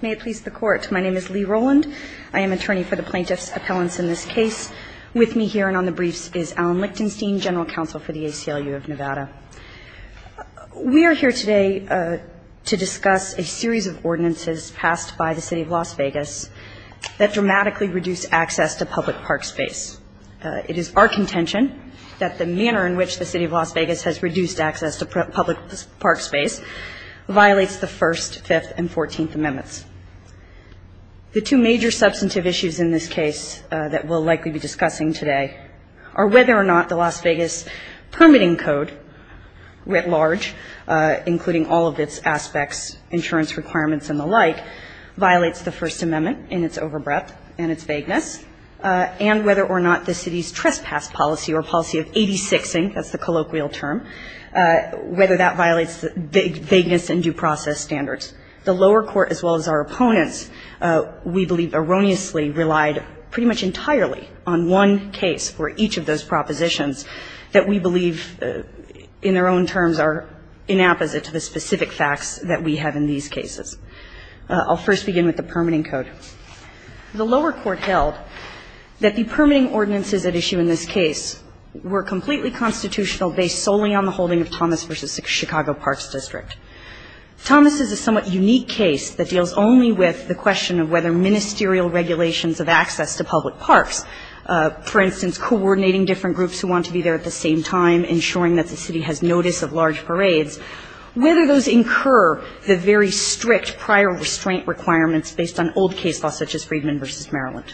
May it please the Court, my name is Lee Rowland, I am attorney for the plaintiff's appellants in this case. With me here and on the briefs is Alan Lichtenstein, General Counsel for the ACLU of Nevada. We are here today to discuss a series of ordinances passed by the City of Las Vegas that dramatically reduce access to public park space. It is our contention that the manner in which the City of Las Vegas has reduced access to public park space violates the First, Fifth, and Fourteenth Amendments. The two major substantive issues in this case that we'll likely be discussing today are whether or not the Las Vegas Permitting Code writ large, including all of its aspects, insurance requirements and the like, violates the First Amendment in its over breadth and its vagueness, and whether or not the City's trespass policy or policy of 86ing, that's the colloquial term, whether that violates the vagueness and due process standards. The lower court, as well as our opponents, we believe erroneously relied pretty much entirely on one case for each of those propositions that we believe in their own terms are inapposite to the specific facts that we have in these cases. I'll first begin with the Permitting Code. The lower court held that the permitting ordinances at issue in this case were completely unconstitutional based solely on the holding of Thomas v. Chicago Parks District. Thomas is a somewhat unique case that deals only with the question of whether ministerial regulations of access to public parks, for instance, coordinating different groups who want to be there at the same time, ensuring that the City has notice of large parades, whether those incur the very strict prior restraint requirements based on old case law such as Friedman v. Maryland.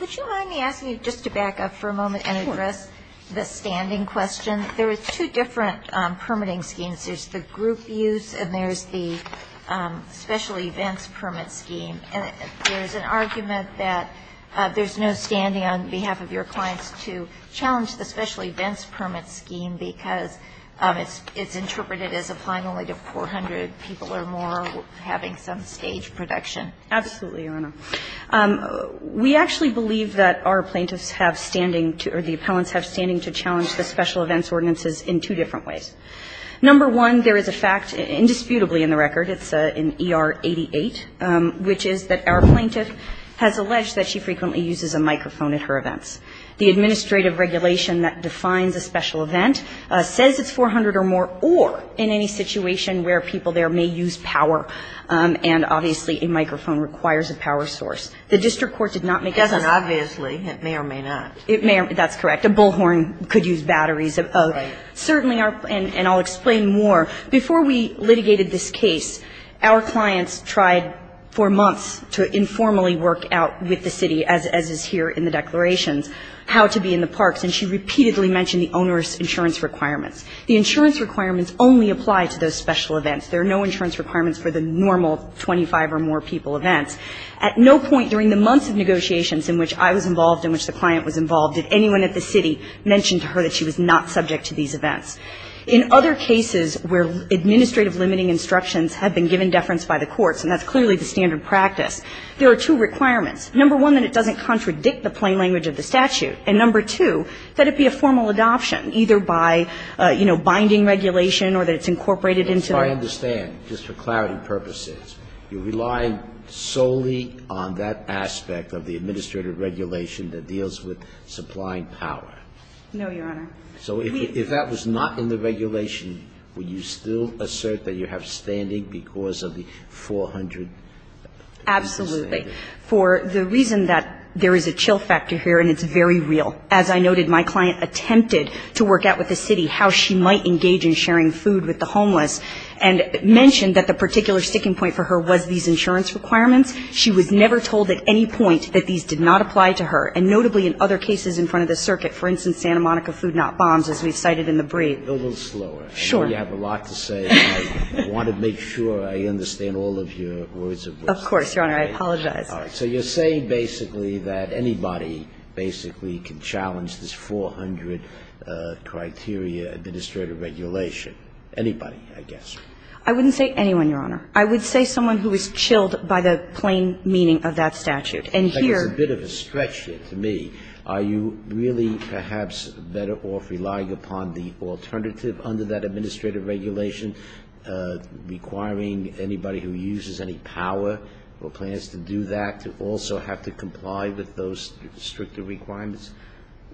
Would you mind me asking you just to back up for a moment and address the standing question? There are two different permitting schemes. There's the group use and there's the special events permit scheme. There's an argument that there's no standing on behalf of your clients to challenge the special events permit scheme because it's interpreted as applying only to 400 people or more having some stage production. Absolutely, Your Honor. We actually believe that our plaintiffs have standing to, or the appellants have standing to challenge the special events ordinances in two different ways. Number one, there is a fact, indisputably in the record, it's in ER 88, which is that our plaintiff has alleged that she frequently uses a microphone at her events. The administrative regulation that defines a special event says it's 400 or more The district court did not make a decision. Obviously, it may or may not. That's correct. A bullhorn could use batteries. Certainly, and I'll explain more. Before we litigated this case, our clients tried for months to informally work out with the city, as is here in the declarations, how to be in the parks. And she repeatedly mentioned the onerous insurance requirements. The insurance requirements only apply to those special events. There are no insurance requirements for the normal 25 or more people events. At no point during the months of negotiations in which I was involved, in which the client was involved, did anyone at the city mention to her that she was not subject to these events. In other cases where administrative limiting instructions have been given deference by the courts, and that's clearly the standard practice, there are two requirements. Number one, that it doesn't contradict the plain language of the statute. And number two, that it be a formal adoption, either by, you know, binding regulation or that it's incorporated into the statute. I understand, just for clarity purposes, you're relying solely on that aspect of the administrative regulation that deals with supplying power. No, Your Honor. So if that was not in the regulation, would you still assert that you have standing because of the 400 reasons? Absolutely. For the reason that there is a chill factor here, and it's very real. As I noted, my client attempted to work out with the city how she might engage in sharing food with the homeless. And mentioned that the particular sticking point for her was these insurance requirements. She was never told at any point that these did not apply to her. And notably in other cases in front of the circuit, for instance, Santa Monica Food Not Bombs, as we've cited in the brief. Go a little slower. Sure. I know you have a lot to say. I want to make sure I understand all of your words of wisdom. Of course, Your Honor. I apologize. All right. So you're saying basically that anybody basically can challenge this 400 criteria under the administrative regulation. Anybody, I guess. I wouldn't say anyone, Your Honor. I would say someone who is chilled by the plain meaning of that statute. And here It's a bit of a stretch here to me. Are you really perhaps better off relying upon the alternative under that administrative regulation requiring anybody who uses any power or plans to do that to also have to comply with those stricter requirements?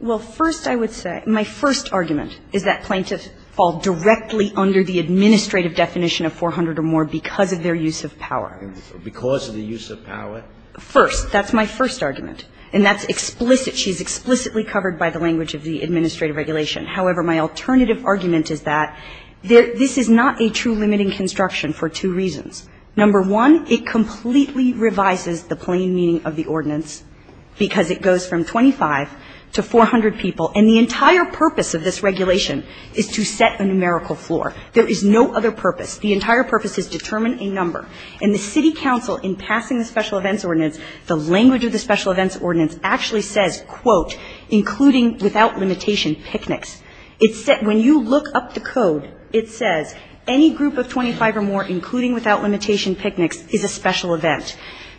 Well, first I would say, my first argument is that plaintiffs fall directly under the administrative definition of 400 or more because of their use of power. Because of the use of power? First. That's my first argument. And that's explicit. She's explicitly covered by the language of the administrative regulation. However, my alternative argument is that this is not a true limiting construction for two reasons. Number one, it completely revises the plain meaning of the ordinance because it goes from 25 to 400 people. And the entire purpose of this regulation is to set a numerical floor. There is no other purpose. The entire purpose is determine a number. And the city council, in passing the special events ordinance, the language of the special events ordinance actually says, quote, including without limitation picnics. It said when you look up the code, it says any group of 25 or more including without limitation picnics is a special event.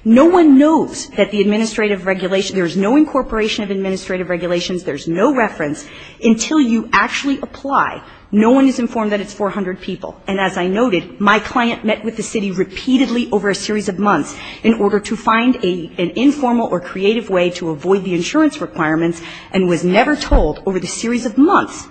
No one knows that the administrative regulation, there's no incorporation of administrative regulations, there's no reference until you actually apply. No one is informed that it's 400 people. And as I noted, my client met with the city repeatedly over a series of months in order to find an informal or creative way to avoid the insurance requirements and was never told over the series of months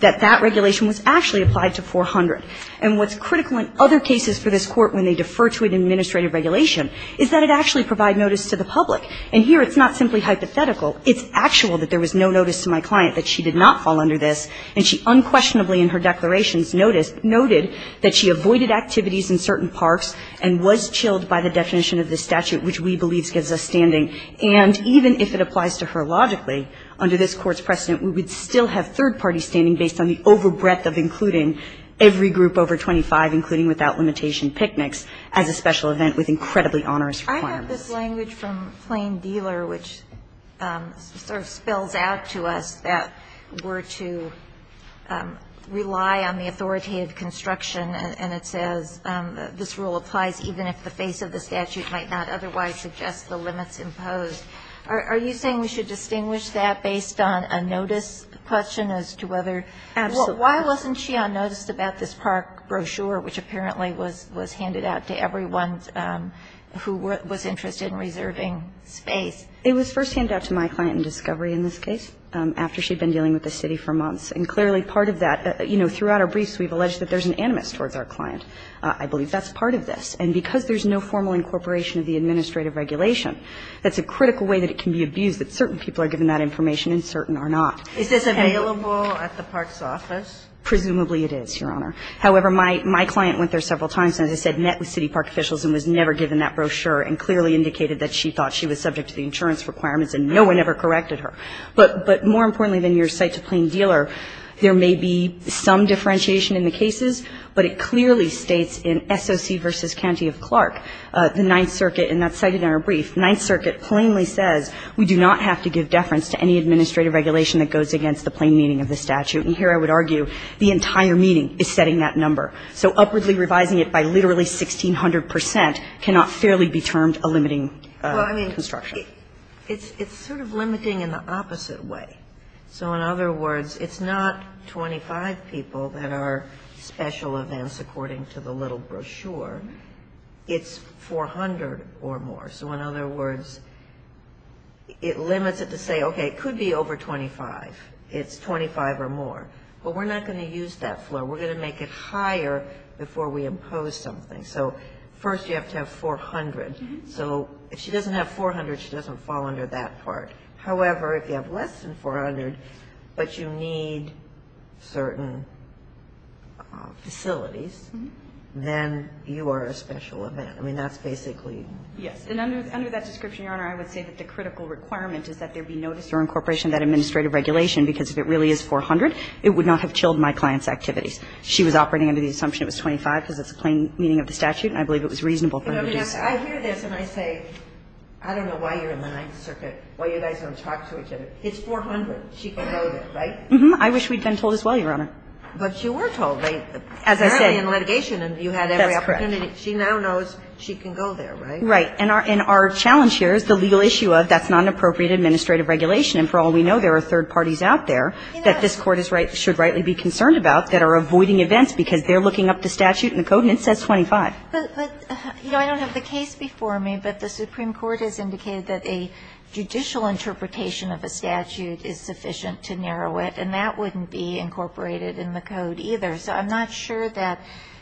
that that regulation was actually applied to 400. And what's critical in other cases for this Court when they defer to an administrative regulation is that it actually provide notice to the public. And here it's not simply hypothetical. It's actual that there was no notice to my client that she did not fall under this and she unquestionably in her declarations noted that she avoided activities in certain parks and was chilled by the definition of the statute which we believe gives us standing. And even if it applies to her logically, under this Court's precedent, we would still have third parties standing based on the over breadth of including every I have this language from Plain Dealer which sort of spells out to us that we're to rely on the authoritative construction and it says this rule applies even if the face of the statute might not otherwise suggest the limits imposed. Are you saying we should distinguish that based on a notice question as to whether why wasn't she on notice about this park brochure which apparently was handed out to everyone who was interested in reserving space? It was first handed out to my client in discovery in this case after she'd been dealing with the city for months. And clearly part of that, you know, throughout our briefs we've alleged that there's an animus towards our client. I believe that's part of this. And because there's no formal incorporation of the administrative regulation, that's a critical way that it can be abused that certain people are given that information and certain are not. Is this available at the park's office? Presumably it is, Your Honor. However, my client went there several times and, as I said, met with city park officials and was never given that brochure and clearly indicated that she thought she was subject to the insurance requirements and no one ever corrected her. But more importantly than your cite to Plain Dealer, there may be some differentiation in the cases, but it clearly states in SOC v. County of Clark, the Ninth Circuit and that's cited in our brief, Ninth Circuit plainly says we do not have to give deference to any administrative regulation that goes against the plain meaning of the statute. And here I would argue the entire meaning is setting that number. So upwardly revising it by literally 1,600 percent cannot fairly be termed a limiting construction. Well, I mean, it's sort of limiting in the opposite way. So in other words, it's not 25 people that are special events according to the little brochure. It's 400 or more. So in other words, it limits it to say, okay, it could be over 25. It's 25 or more. But we're not going to use that floor. We're going to make it higher before we impose something. So first you have to have 400. So if she doesn't have 400, she doesn't fall under that part. However, if you have less than 400, but you need certain facilities, then you are a special event. I mean, that's basically. Yes. And under that description, Your Honor, I would say that the critical requirement is that there be notice or incorporation of that administrative regulation, because if it really is 400, it would not have chilled my client's activities. She was operating under the assumption it was 25 because it's the plain meaning of the statute, and I believe it was reasonable for her to do so. I hear this and I say, I don't know why you're in the Ninth Circuit, why you guys don't talk to each other. It's 400. She can go there, right? Mm-hmm. I wish we'd been told as well, Your Honor. But you were told. Apparently in litigation you had every opportunity. That's correct. She now knows she can go there, right? Right. And our challenge here is the legal issue of that's not an appropriate administrative regulation. And for all we know, there are third parties out there that this Court should rightly be concerned about that are avoiding events because they're looking up the statute in the code and it says 25. But, you know, I don't have the case before me, but the Supreme Court has indicated that a judicial interpretation of a statute is sufficient to narrow it, and that wouldn't be incorporated in the code either. So I'm not sure that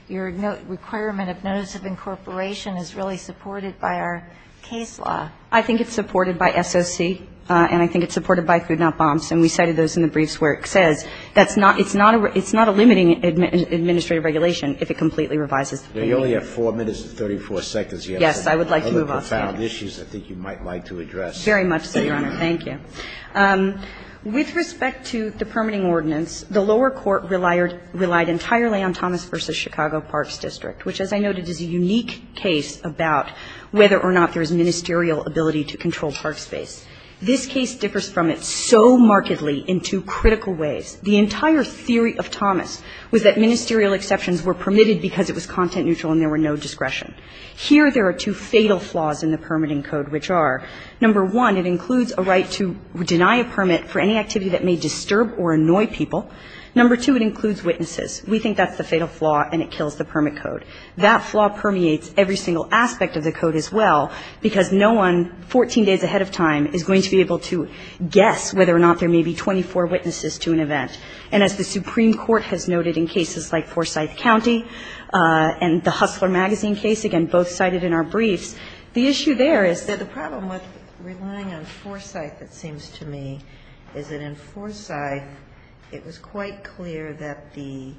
your requirement of notice of incorporation is really supported by our case law. I think it's supported by S.O.C., and I think it's supported by Food Not Bombs. And we cited those in the briefs where it says that's not – it's not a limiting administrative regulation if it completely revises the premium. Now, you only have 4 minutes and 34 seconds. Yes. I would like to move on. Other profound issues I think you might like to address. Very much so, Your Honor. Thank you. With respect to the permitting ordinance, the lower court relied entirely on Thomas v. Chicago Parks District, which, as I noted, is a unique case about whether or not there is ministerial ability to control park space. This case differs from it so markedly in two critical ways. The entire theory of Thomas was that ministerial exceptions were permitted because it was content-neutral and there were no discretion. Here there are two fatal flaws in the permitting code, which are, number one, it includes a right to deny a permit for any activity that may disturb or annoy people. Number two, it includes witnesses. We think that's the fatal flaw, and it kills the permit code. That flaw permeates every single aspect of the code as well, because no one 14 days ahead of time is going to be able to guess whether or not there may be 24 witnesses to an event. And as the Supreme Court has noted in cases like Forsyth County and the Hustler Magazine case, again, both cited in our briefs, the issue there is that the problem with relying on Forsyth, it seems to me, is that in Forsyth it was quite clear that the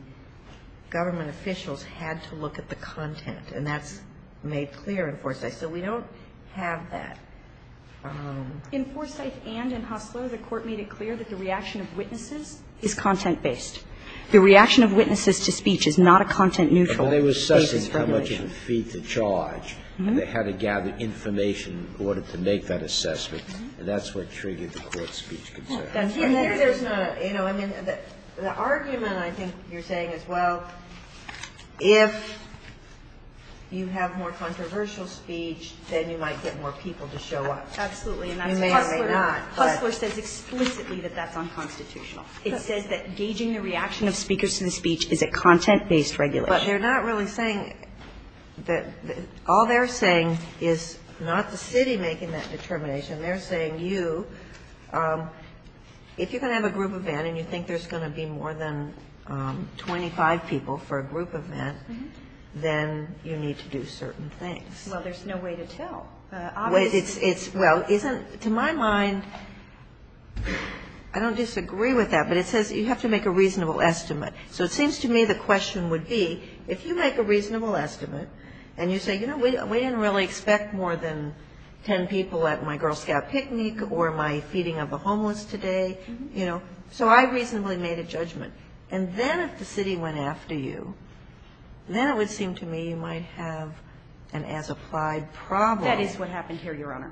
government officials had to look at the content. And that's made clear in Forsyth. So we don't have that. In Forsyth and in Hustler, the Court made it clear that the reaction of witnesses is content-based. The reaction of witnesses to speech is not a content-neutral basis for regulation. They were assessing how much it would feed the charge. They had to gather information in order to make that assessment. And that's what triggered the Court's speech concern. And here there's no, you know, I mean, the argument I think you're saying is, well, if you have more controversial speech, then you might get more people to show up. You may or may not. Hustler says explicitly that that's unconstitutional. It says that gauging the reaction of speakers to the speech is a content-based regulation. But they're not really saying that all they're saying is not the city making that determination. They're saying you, if you're going to have a group event and you think there's going to be more than 25 people for a group event, then you need to do certain things. Well, there's no way to tell. Well, to my mind, I don't disagree with that. But it says you have to make a reasonable estimate. So it seems to me the question would be, if you make a reasonable estimate and you say, you know, we didn't really expect more than ten people at my Girl Scout picnic or my feeding of the homeless today, you know, so I reasonably made a judgment. And then if the city went after you, then it would seem to me you might have an as-applied problem. That is what happened here, Your Honor.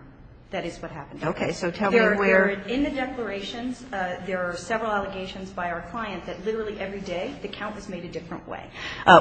That is what happened. Okay. So tell me where. In the declarations there are several allegations by our client that literally every day the count was made a different way.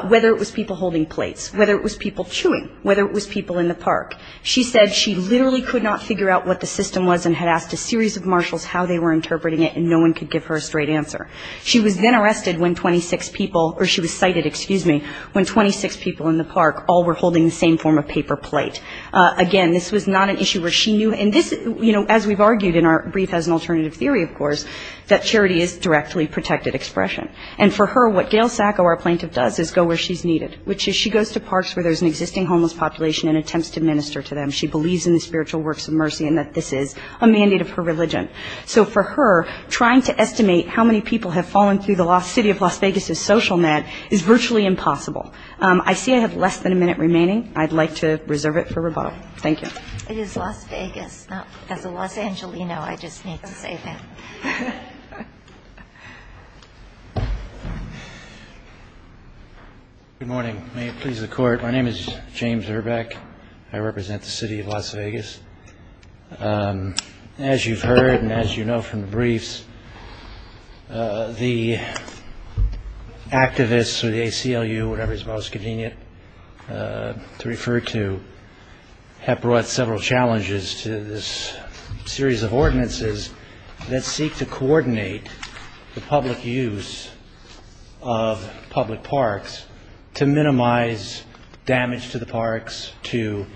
Whether it was people holding plates, whether it was people chewing, whether it was people in the park. She said she literally could not figure out what the system was and had asked a series of marshals how they were interpreting it and no one could give her a straight answer. She was then arrested when 26 people or she was cited, excuse me, when 26 people in the park all were holding the same form of paper plate. Again, this was not an issue where she knew. And this, you know, as we've argued in our brief as an alternative theory, of course, that charity is directly protected expression. And for her, what Gail Sacco, our plaintiff, does is go where she's needed, which is she goes to parks where there's an existing homeless population and attempts to minister to them. She believes in the spiritual works of mercy and that this is a mandate of her religion. So for her, trying to estimate how many people have fallen through the city of Las Vegas' social net is virtually impossible. I see I have less than a minute remaining. I'd like to reserve it for rebuttal. Thank you. It is Las Vegas. As a Los Angelino, I just need to say that. Good morning. May it please the Court. My name is James Erbeck. I represent the city of Las Vegas. As you've heard and as you know from the briefs, the activists or the ACLU, whatever is most to this series of ordinances that seek to coordinate the public use of public parks to minimize damage to the parks, to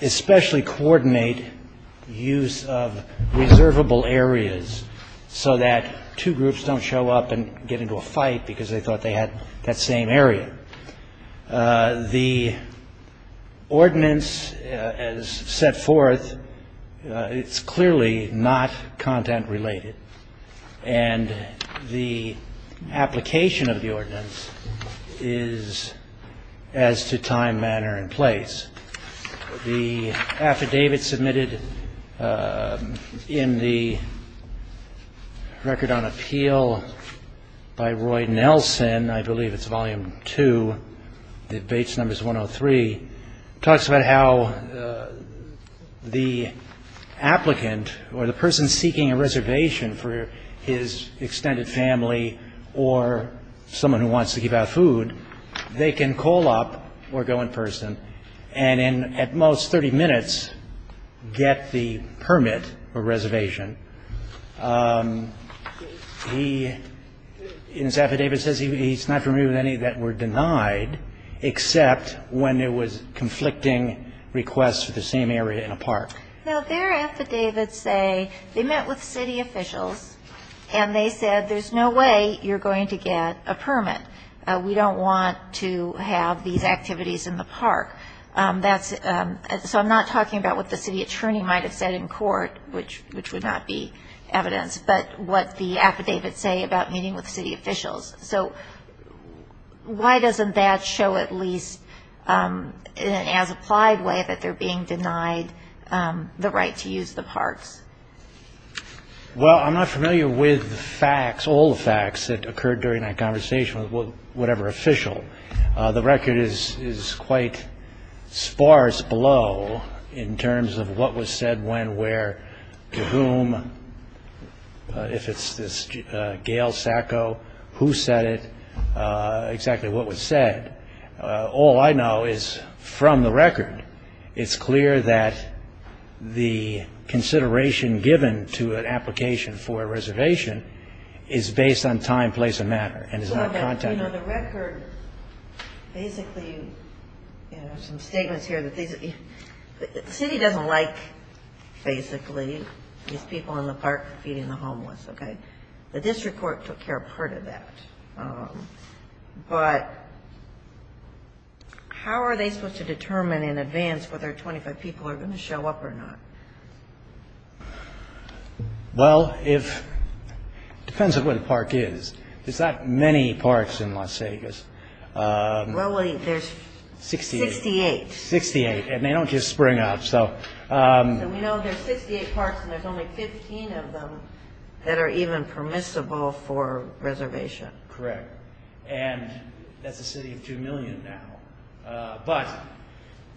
especially coordinate use of reservable areas so that two groups don't show up and get into a fight because they thought they had that same area. The ordinance as set forth, it's clearly not content-related. And the application of the ordinance is as to time, manner, and place. The affidavit submitted in the record on appeal by Roy Nelson, I believe it's volume two, debates numbers 103, talks about how the applicant or the person seeking a reservation for his and in at most 30 minutes get the permit or reservation. He, in his affidavit, says he's not familiar with any that were denied except when it was conflicting requests for the same area in a park. Now, their affidavits say they met with city officials and they said there's no way you're going to get a permit. We don't want to have these activities in the park. So I'm not talking about what the city attorney might have said in court, which would not be evidence, but what the affidavits say about meeting with city officials. So why doesn't that show at least in an as-applied way that they're being denied the right to use the parks? Well, I'm not familiar with the facts, all the facts that occurred during that conversation with whatever official. The record is quite sparse below in terms of what was said when, where, to whom. If it's this Gail Sacco, who said it, exactly what was said. All I know is from the record, it's clear that the consideration given to an application for a reservation is based on time, place, and matter and is not contact. The record basically, there's some statements here that the city doesn't like, basically, these people in the park feeding the homeless. The district court took care of part of that. But how are they supposed to determine in advance whether 25 people are going to show up or not? Well, it depends on where the park is. There's not many parks in Las Vegas. Well, there's 68. 68, and they don't just spring up. So we know there's 68 parks and there's only 15 of them that are even permissible for reservation. Correct. And that's a city of 2 million now. But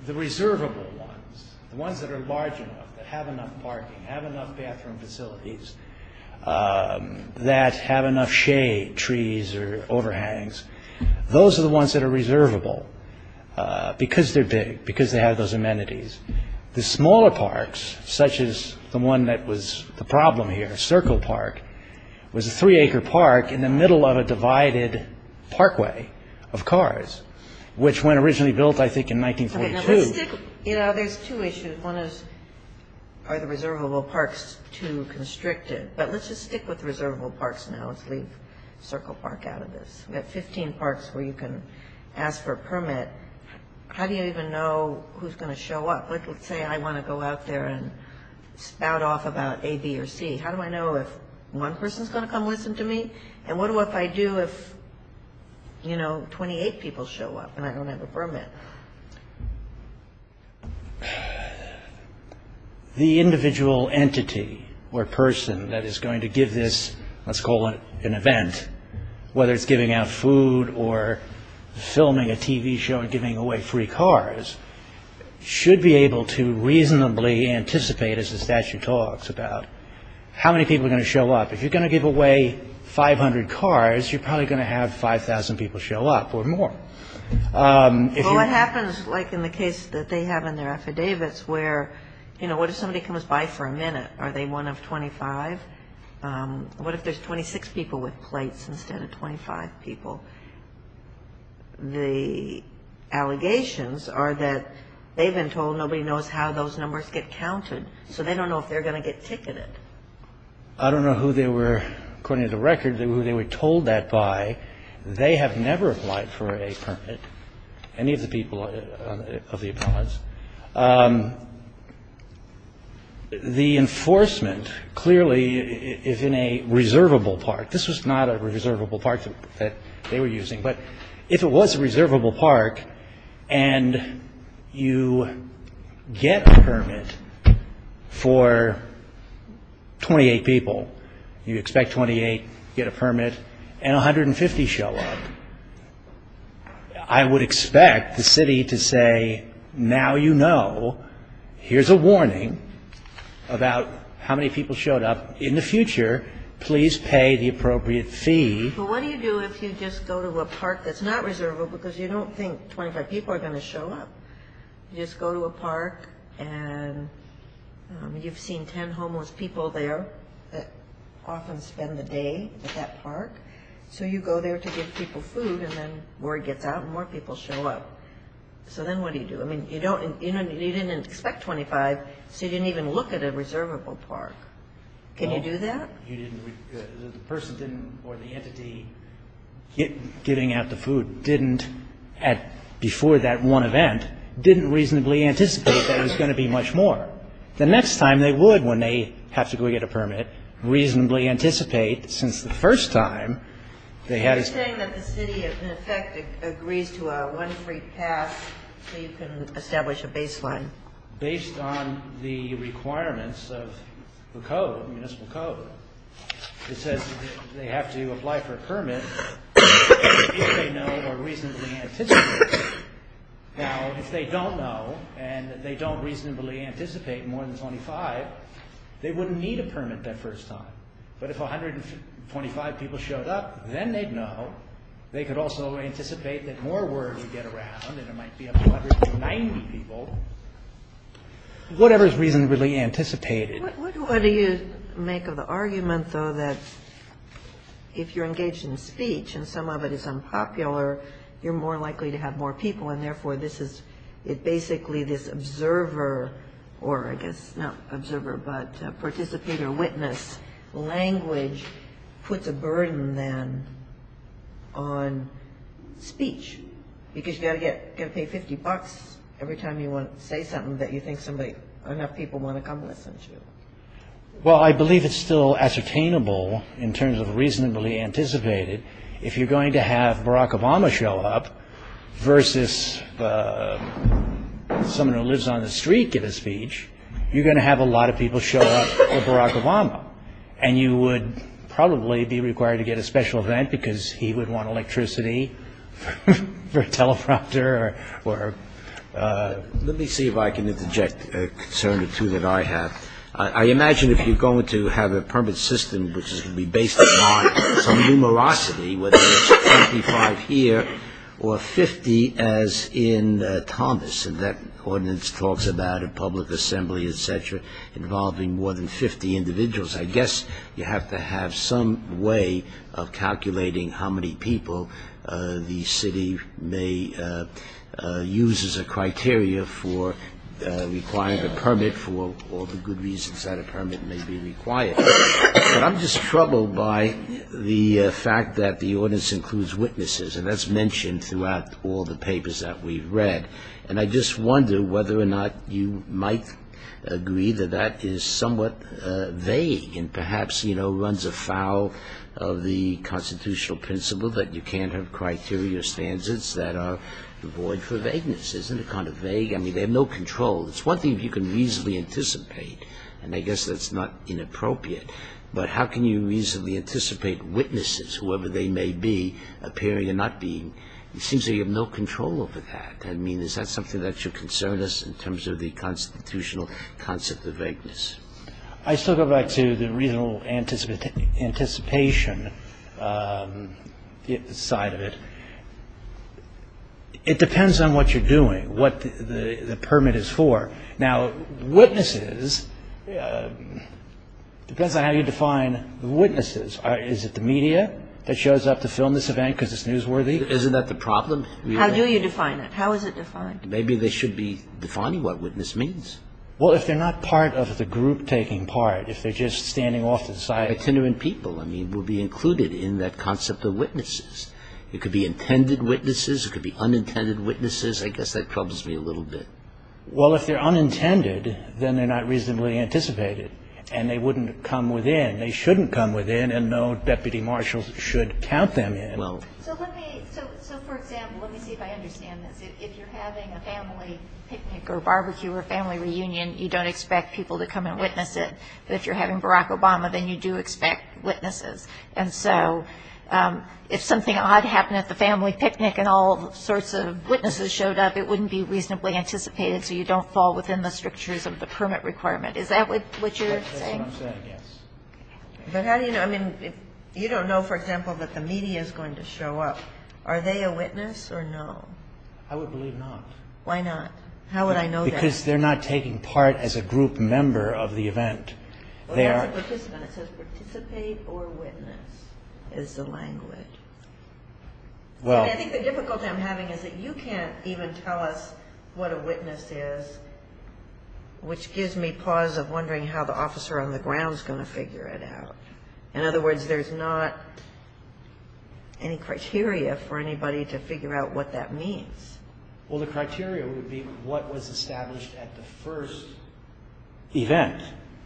the reservable ones, the ones that are large enough, that have enough parking, have enough bathroom facilities, that have enough shade, trees or overhangs, those are the ones that are reservable because they're big, because they have those amenities. The smaller parks, such as the one that was the problem here, Circle Park, was a three-acre park in the middle of a divided parkway of cars, which went originally built, I think, in 1942. You know, there's two issues. One is, are the reservable parks too constricted? But let's just stick with the reservable parks now. Let's leave Circle Park out of this. We've got 15 parks where you can ask for a permit. How do you even know who's going to show up? Let's say I want to go out there and spout off about A, B, or C. How do I know if one person's going to come listen to me? And what do I do if, you know, 28 people show up and I don't have a permit? The individual entity or person that is going to give this, let's call it an event, whether it's giving out food or filming a TV show and giving away free cars, should be able to reasonably anticipate, as the statute talks, about how many people are going to show up. If you're going to give away 500 cars, you're probably going to have 5,000 people show up or more. Well, it happens, like in the case that they have in their affidavits, where, you know, what if somebody comes by for a minute? Are they one of 25? What if there's 26 people with plates instead of 25 people? The allegations are that they've been told nobody knows how those numbers get counted, so they don't know if they're going to get ticketed. I don't know who they were, according to the record, who they were told that by. They have never applied for a permit, any of the people of the appellants. The enforcement clearly is in a reservable part. This was not a reservable part that they were using, but if it was a reservable part and you get a permit for 28 people, you expect 28 to get a permit and 150 show up, I would expect the city to say, now you know, here's a warning about how many people showed up in the future. Please pay the appropriate fee. But what do you do if you just go to a park that's not reservable because you don't think 25 people are going to show up? You just go to a park and you've seen 10 homeless people there that often spend the day at that park, so you go there to give people food and then word gets out and more people show up. So then what do you do? I mean, you didn't expect 25, so you didn't even look at a reservable park. Can you do that? The person or the entity giving out the food before that one event didn't reasonably anticipate there was going to be much more. The next time they would, when they have to go get a permit, reasonably anticipate since the first time they had a permit. Are you saying that the city in effect agrees to a one free pass so you can establish a baseline? Based on the requirements of the code, the municipal code, it says they have to apply for a permit if they know or reasonably anticipate. Now, if they don't know and they don't reasonably anticipate more than 25, they wouldn't need a permit that first time. But if 125 people showed up, then they'd know. They could also anticipate that more word would get around and it might be up to 190 people, whatever is reasonably anticipated. What do you make of the argument, though, that if you're engaged in speech and some of it is unpopular, you're more likely to have more people and therefore this is basically this observer or I guess not observer but participant or witness language puts a burden then on speech because you've got to pay 50 bucks every time you want to say something that you think enough people want to come listen to. Well, I believe it's still ascertainable in terms of reasonably anticipated. If you're going to have Barack Obama show up versus someone who lives on the street give a speech, you're going to have a lot of people show up for Barack Obama and you would probably be required to get a special event because he would want electricity for a teleprompter or... Let me see if I can interject a concern or two that I have. I imagine if you're going to have a permit system which is going to be based upon some numerosity, whether it's 25 here or 50 as in Thomas and that ordinance talks about a public assembly, etc. involving more than 50 individuals. I guess you have to have some way of calculating how many people the city may use as a criteria for requiring a permit for all the good reasons that a permit may be required. But I'm just troubled by the fact that the ordinance includes witnesses and that's mentioned throughout all the papers that we've read and I just wonder whether or not you might agree that that is somewhat vague and perhaps runs afoul of the constitutional principle that you can't have criteria or standards that are void for vagueness. Isn't it kind of vague? I mean, they have no control. It's one thing if you can reasonably anticipate and I guess that's not inappropriate, but how can you reasonably anticipate witnesses, whoever they may be, appearing and not being? It seems that you have no control over that. I mean, is that something that should concern us in terms of the constitutional concept of vagueness? I still go back to the reasonable anticipation side of it. It depends on what you're doing, what the permit is for. Now, witnesses, it depends on how you define witnesses. Is it the media that shows up to film this event because it's newsworthy? Isn't that the problem? How do you define it? How is it defined? Maybe they should be defining what witness means. Well, if they're not part of the group taking part, if they're just standing off to the side. Itinerant people, I mean, will be included in that concept of witnesses. It could be intended witnesses. It could be unintended witnesses. I guess that troubles me a little bit. Well, if they're unintended, then they're not reasonably anticipated and they wouldn't come within. They shouldn't come within and no deputy marshal should count them in. So let me, so for example, let me see if I understand this. If you're having a family picnic or barbecue or family reunion, you don't expect people to come and witness it. But if you're having Barack Obama, then you do expect witnesses. And so if something odd happened at the family picnic and all sorts of witnesses showed up, it wouldn't be reasonably anticipated, so you don't fall within the strictures of the permit requirement. Is that what you're saying? That's what I'm saying, yes. But how do you know? I mean, you don't know, for example, that the media is going to show up. Are they a witness or no? I would believe not. Why not? How would I know that? Because they're not taking part as a group member of the event. Well, that's a participant. It says participate or witness is the language. I think the difficulty I'm having is that you can't even tell us what a witness is, which gives me pause of wondering how the officer on the ground is going to figure it out. In other words, there's not any criteria for anybody to figure out what that means. Well, the criteria would be what was established at the first event.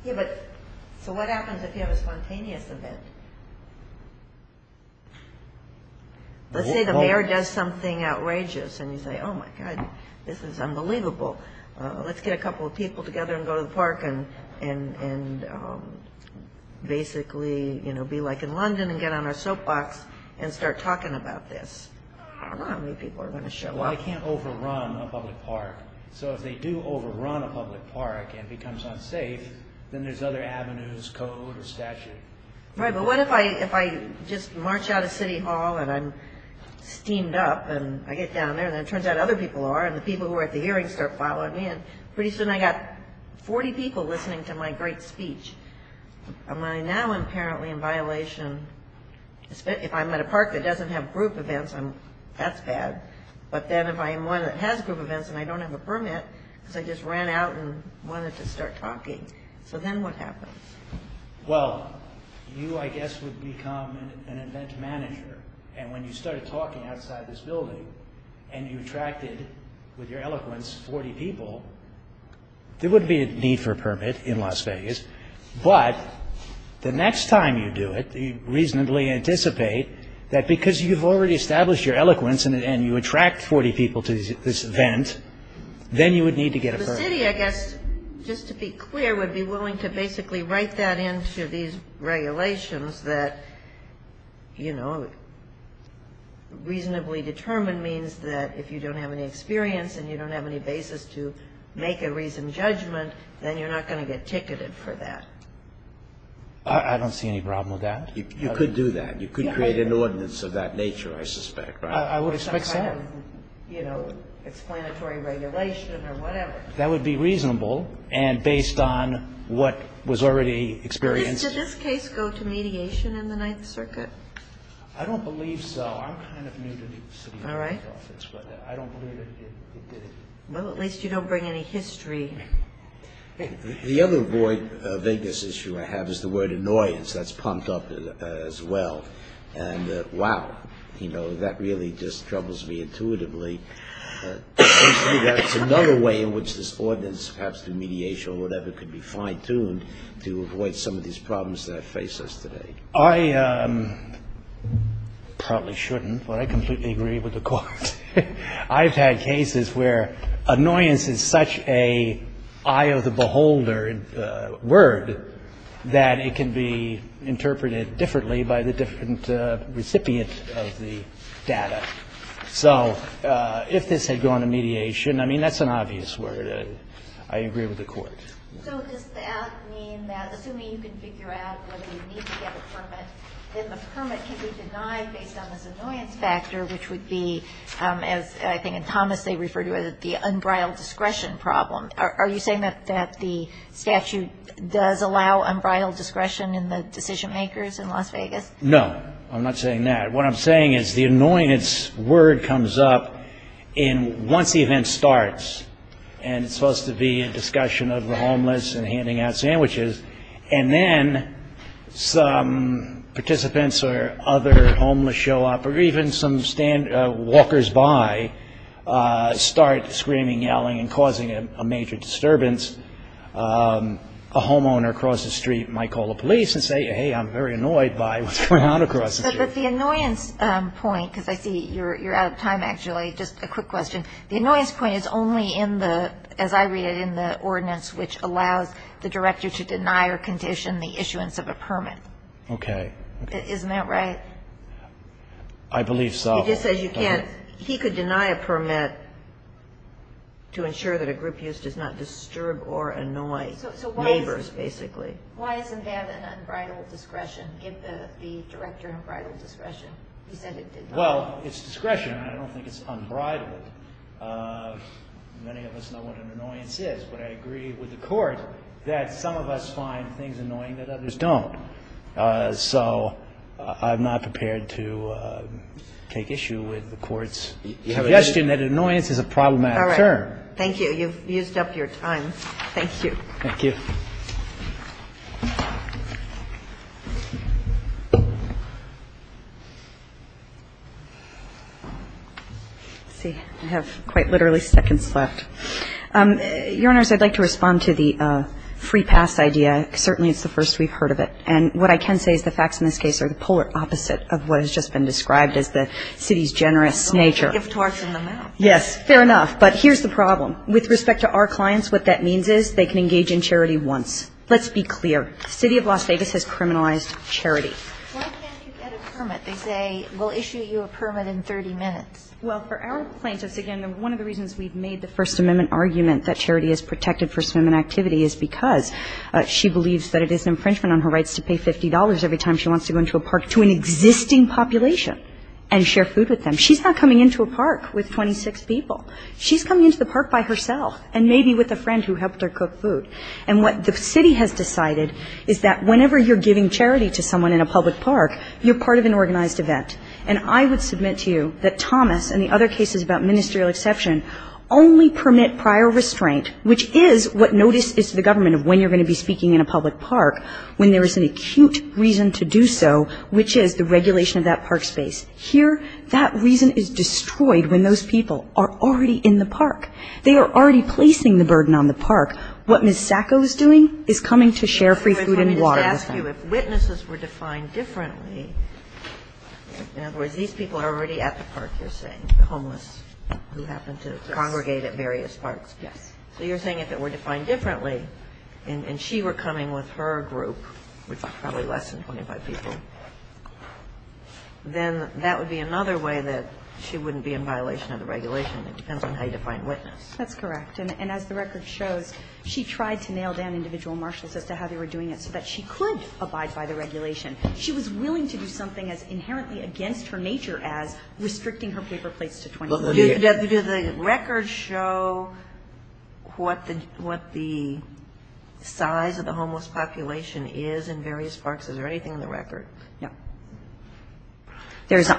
Yeah, but so what happens if you have a spontaneous event? Let's say the mayor does something outrageous and you say, Oh, my God, this is unbelievable. Let's get a couple of people together and go to the park and basically be like in London and get on our soapbox and start talking about this. I don't know how many people are going to show up. Well, they can't overrun a public park. So if they do overrun a public park and it becomes unsafe, then there's other avenues, code or statute. Right, but what if I just march out of City Hall and I'm steamed up and I get down there and it turns out other people are and the people who are at the hearings start following me and pretty soon I've got 40 people listening to my great speech. Am I now apparently in violation? If I'm at a park that doesn't have group events, that's bad. But then if I'm one that has group events and I don't have a permit, because I just ran out and wanted to start talking. So then what happens? Well, you, I guess, would become an event manager. And when you started talking outside this building and you attracted, with your eloquence, 40 people, there wouldn't be a need for a permit in Las Vegas. But the next time you do it, you reasonably anticipate that because you've already established your eloquence and you attract 40 people to this event, then you would need to get a permit. The city, I guess, just to be clear, would be willing to basically You write that into these regulations that, you know, reasonably determined means that if you don't have any experience and you don't have any basis to make a reasoned judgment, then you're not going to get ticketed for that. I don't see any problem with that. You could do that. You could create an ordinance of that nature, I suspect. I would expect so. You know, explanatory regulation or whatever. That would be reasonable and based on what was already experienced. Did this case go to mediation in the Ninth Circuit? I don't believe so. I'm kind of new to the city office, but I don't believe it did. Well, at least you don't bring any history. The other void, vagueness issue I have is the word annoyance. That's pumped up as well. And wow, you know, that really just troubles me intuitively. That's another way in which this ordinance perhaps to mediation or whatever could be fine-tuned to avoid some of these problems that face us today. I probably shouldn't, but I completely agree with the Court. I've had cases where annoyance is such an eye of the beholder word that it can be interpreted differently by the different recipient of the data. So if this had gone to mediation, I mean, that's an obvious word. I agree with the Court. So does that mean that assuming you can figure out whether you need to get a permit, then the permit can be denied based on this annoyance factor, which would be, as I think in Thomas they refer to it, the unbridled discretion problem. Are you saying that the statute does allow unbridled discretion in the decision-makers in Las Vegas? No. I'm not saying that. What I'm saying is the annoyance word comes up once the event starts, and it's supposed to be a discussion of the homeless and handing out sandwiches, and then some participants or other homeless show up or even some walkers by start screaming, yelling and causing a major disturbance. A homeowner across the street might call the police and say, hey, I'm very annoyed by what's going on across the street. But the annoyance point, because I see you're out of time, actually. Just a quick question. The annoyance point is only in the, as I read it, in the ordinance which allows the director to deny or condition the issuance of a permit. Okay. Isn't that right? I believe so. He just says you can't. He could deny a permit to ensure that a group use does not disturb or annoy neighbors, basically. Why does it have an unbridled discretion, give the director unbridled discretion? He said it did not. Well, it's discretion. I don't think it's unbridled. Many of us know what an annoyance is, but I agree with the Court that some of us find things annoying that others don't. So I'm not prepared to take issue with the Court's suggestion that annoyance is a problematic term. All right. Thank you. You've used up your time. Thank you. Thank you. Let's see. I have quite literally seconds left. Your Honors, I'd like to respond to the free pass idea. Certainly it's the first we've heard of it. And what I can say is the facts in this case are the polar opposite of what has just been described as the city's generous nature. It's a gift to us in the mouth. Yes. Fair enough. But here's the problem. With respect to our clients, what that means is they can engage in charity once. Let's be clear. The City of Las Vegas has criminalized charity. Why can't you get a permit? They say we'll issue you a permit in 30 minutes. Well, for our plaintiffs, again, one of the reasons we've made the First Amendment argument that charity is protected for swimming activity is because she believes that it is an infringement on her rights to pay $50 every time she wants to go into a park to an existing population and share food with them. She's not coming into a park with 26 people. She's coming into the park by herself and maybe with a friend who helped her cook food. And what the city has decided is that whenever you're giving charity to someone in a public park, you're part of an organized event. And I would submit to you that Thomas and the other cases about ministerial exception only permit prior restraint, which is what notice is to the government of when you're going to be speaking in a public park, when there is an acute reason to do so, which is the regulation of that park space. Here, that reason is destroyed when those people are already in the park. They are already placing the burden on the park. What Ms. Sacco is doing is coming to share free food and water with them. If witnesses were defined differently, in other words, these people are already at the park, you're saying, the homeless who happen to congregate at various parks. Yes. So you're saying if it were defined differently and she were coming with her group, which are probably less than 25 people, then that would be another way that she wouldn't be in violation of the regulation. It depends on how you define witness. That's correct. And as the record shows, she tried to nail down individual marshals as to how they were doing it so that she could abide by the regulation. She was willing to do something as inherently against her nature as restricting her paper plates to 25. Do the records show what the size of the homeless population is in various parks? Is there anything in the record? No.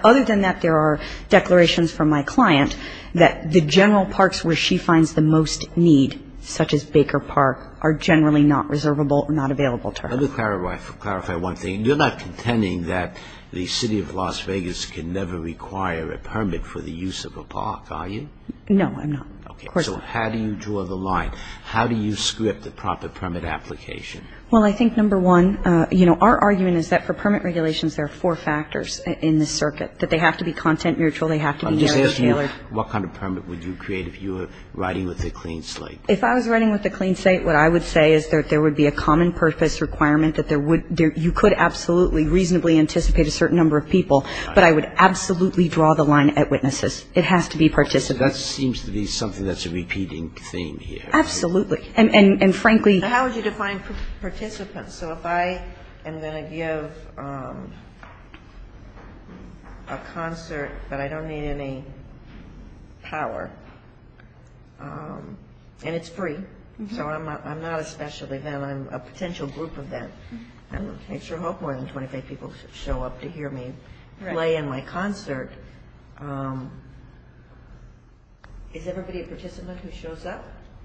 Other than that, there are declarations from my client that the general parks where she finds the most need, such as Baker Park, are generally not reservable or not available to her. Let me clarify one thing. You're not contending that the City of Las Vegas can never require a permit for the use of a park, are you? No, I'm not. Okay. Of course not. So how do you draw the line? How do you script the proper permit application? Well, I think, number one, you know, our argument is that for permit regulations there are four factors in the circuit, that they have to be content-mutual, they have to be narrow-scaled. I'm just asking you what kind of permit would you create if you were writing with a clean slate? If I was writing with a clean slate, what I would say is that there would be a common-purpose requirement that there would be you could absolutely, reasonably anticipate a certain number of people, but I would absolutely draw the line at witnesses. It has to be participants. That seems to be something that's a repeating theme here. Absolutely. And frankly ---- How would you define participants? So if I am going to give a concert, but I don't need any power, and it's free, so I'm not a special event. I'm a potential group event. I sure hope more than 25 people show up to hear me play in my concert. Is everybody a participant who shows up?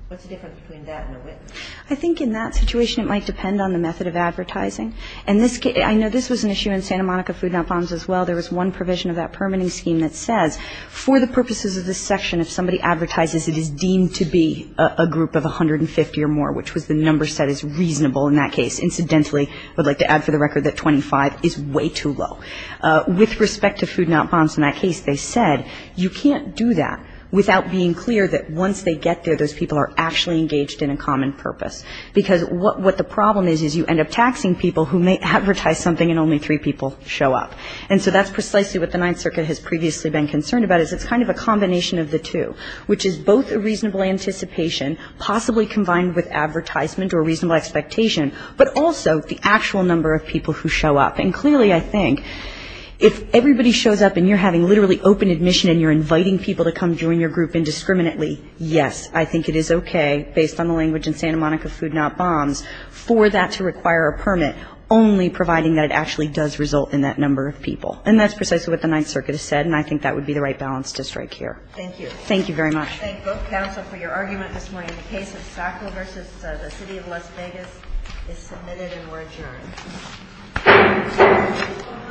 I think in that situation it might depend on the method of advertising. And I know this was an issue in Santa Monica Food Not Bonds as well. There was one provision of that permitting scheme that says for the purposes of this section, if somebody advertises it is deemed to be a group of 150 or more, which was the number set as reasonable in that case. Incidentally, I would like to add for the record that 25 is way too low. With respect to Food Not Bonds in that case, they said you can't do that without being clear that once they get there, those people are actually engaged in a common purpose. Because what the problem is, is you end up taxing people who may advertise something and only three people show up. And so that's precisely what the Ninth Circuit has previously been concerned about, is it's kind of a combination of the two, which is both a reasonable anticipation, possibly combined with advertisement or reasonable expectation, but also the actual number of people who show up. And clearly I think if everybody shows up and you're having literally open admission and you're inviting people to come join your group indiscriminately, yes, I think it is okay based on the language in Santa Monica Food Not Bonds for that to require a permit, only providing that it actually does result in that number of people. And that's precisely what the Ninth Circuit has said, and I think that would be the right balance to strike here. Thank you. Thank you very much. I thank both counsel for your argument this morning. The case of Sacco v. the City of Las Vegas is submitted and we're adjourned.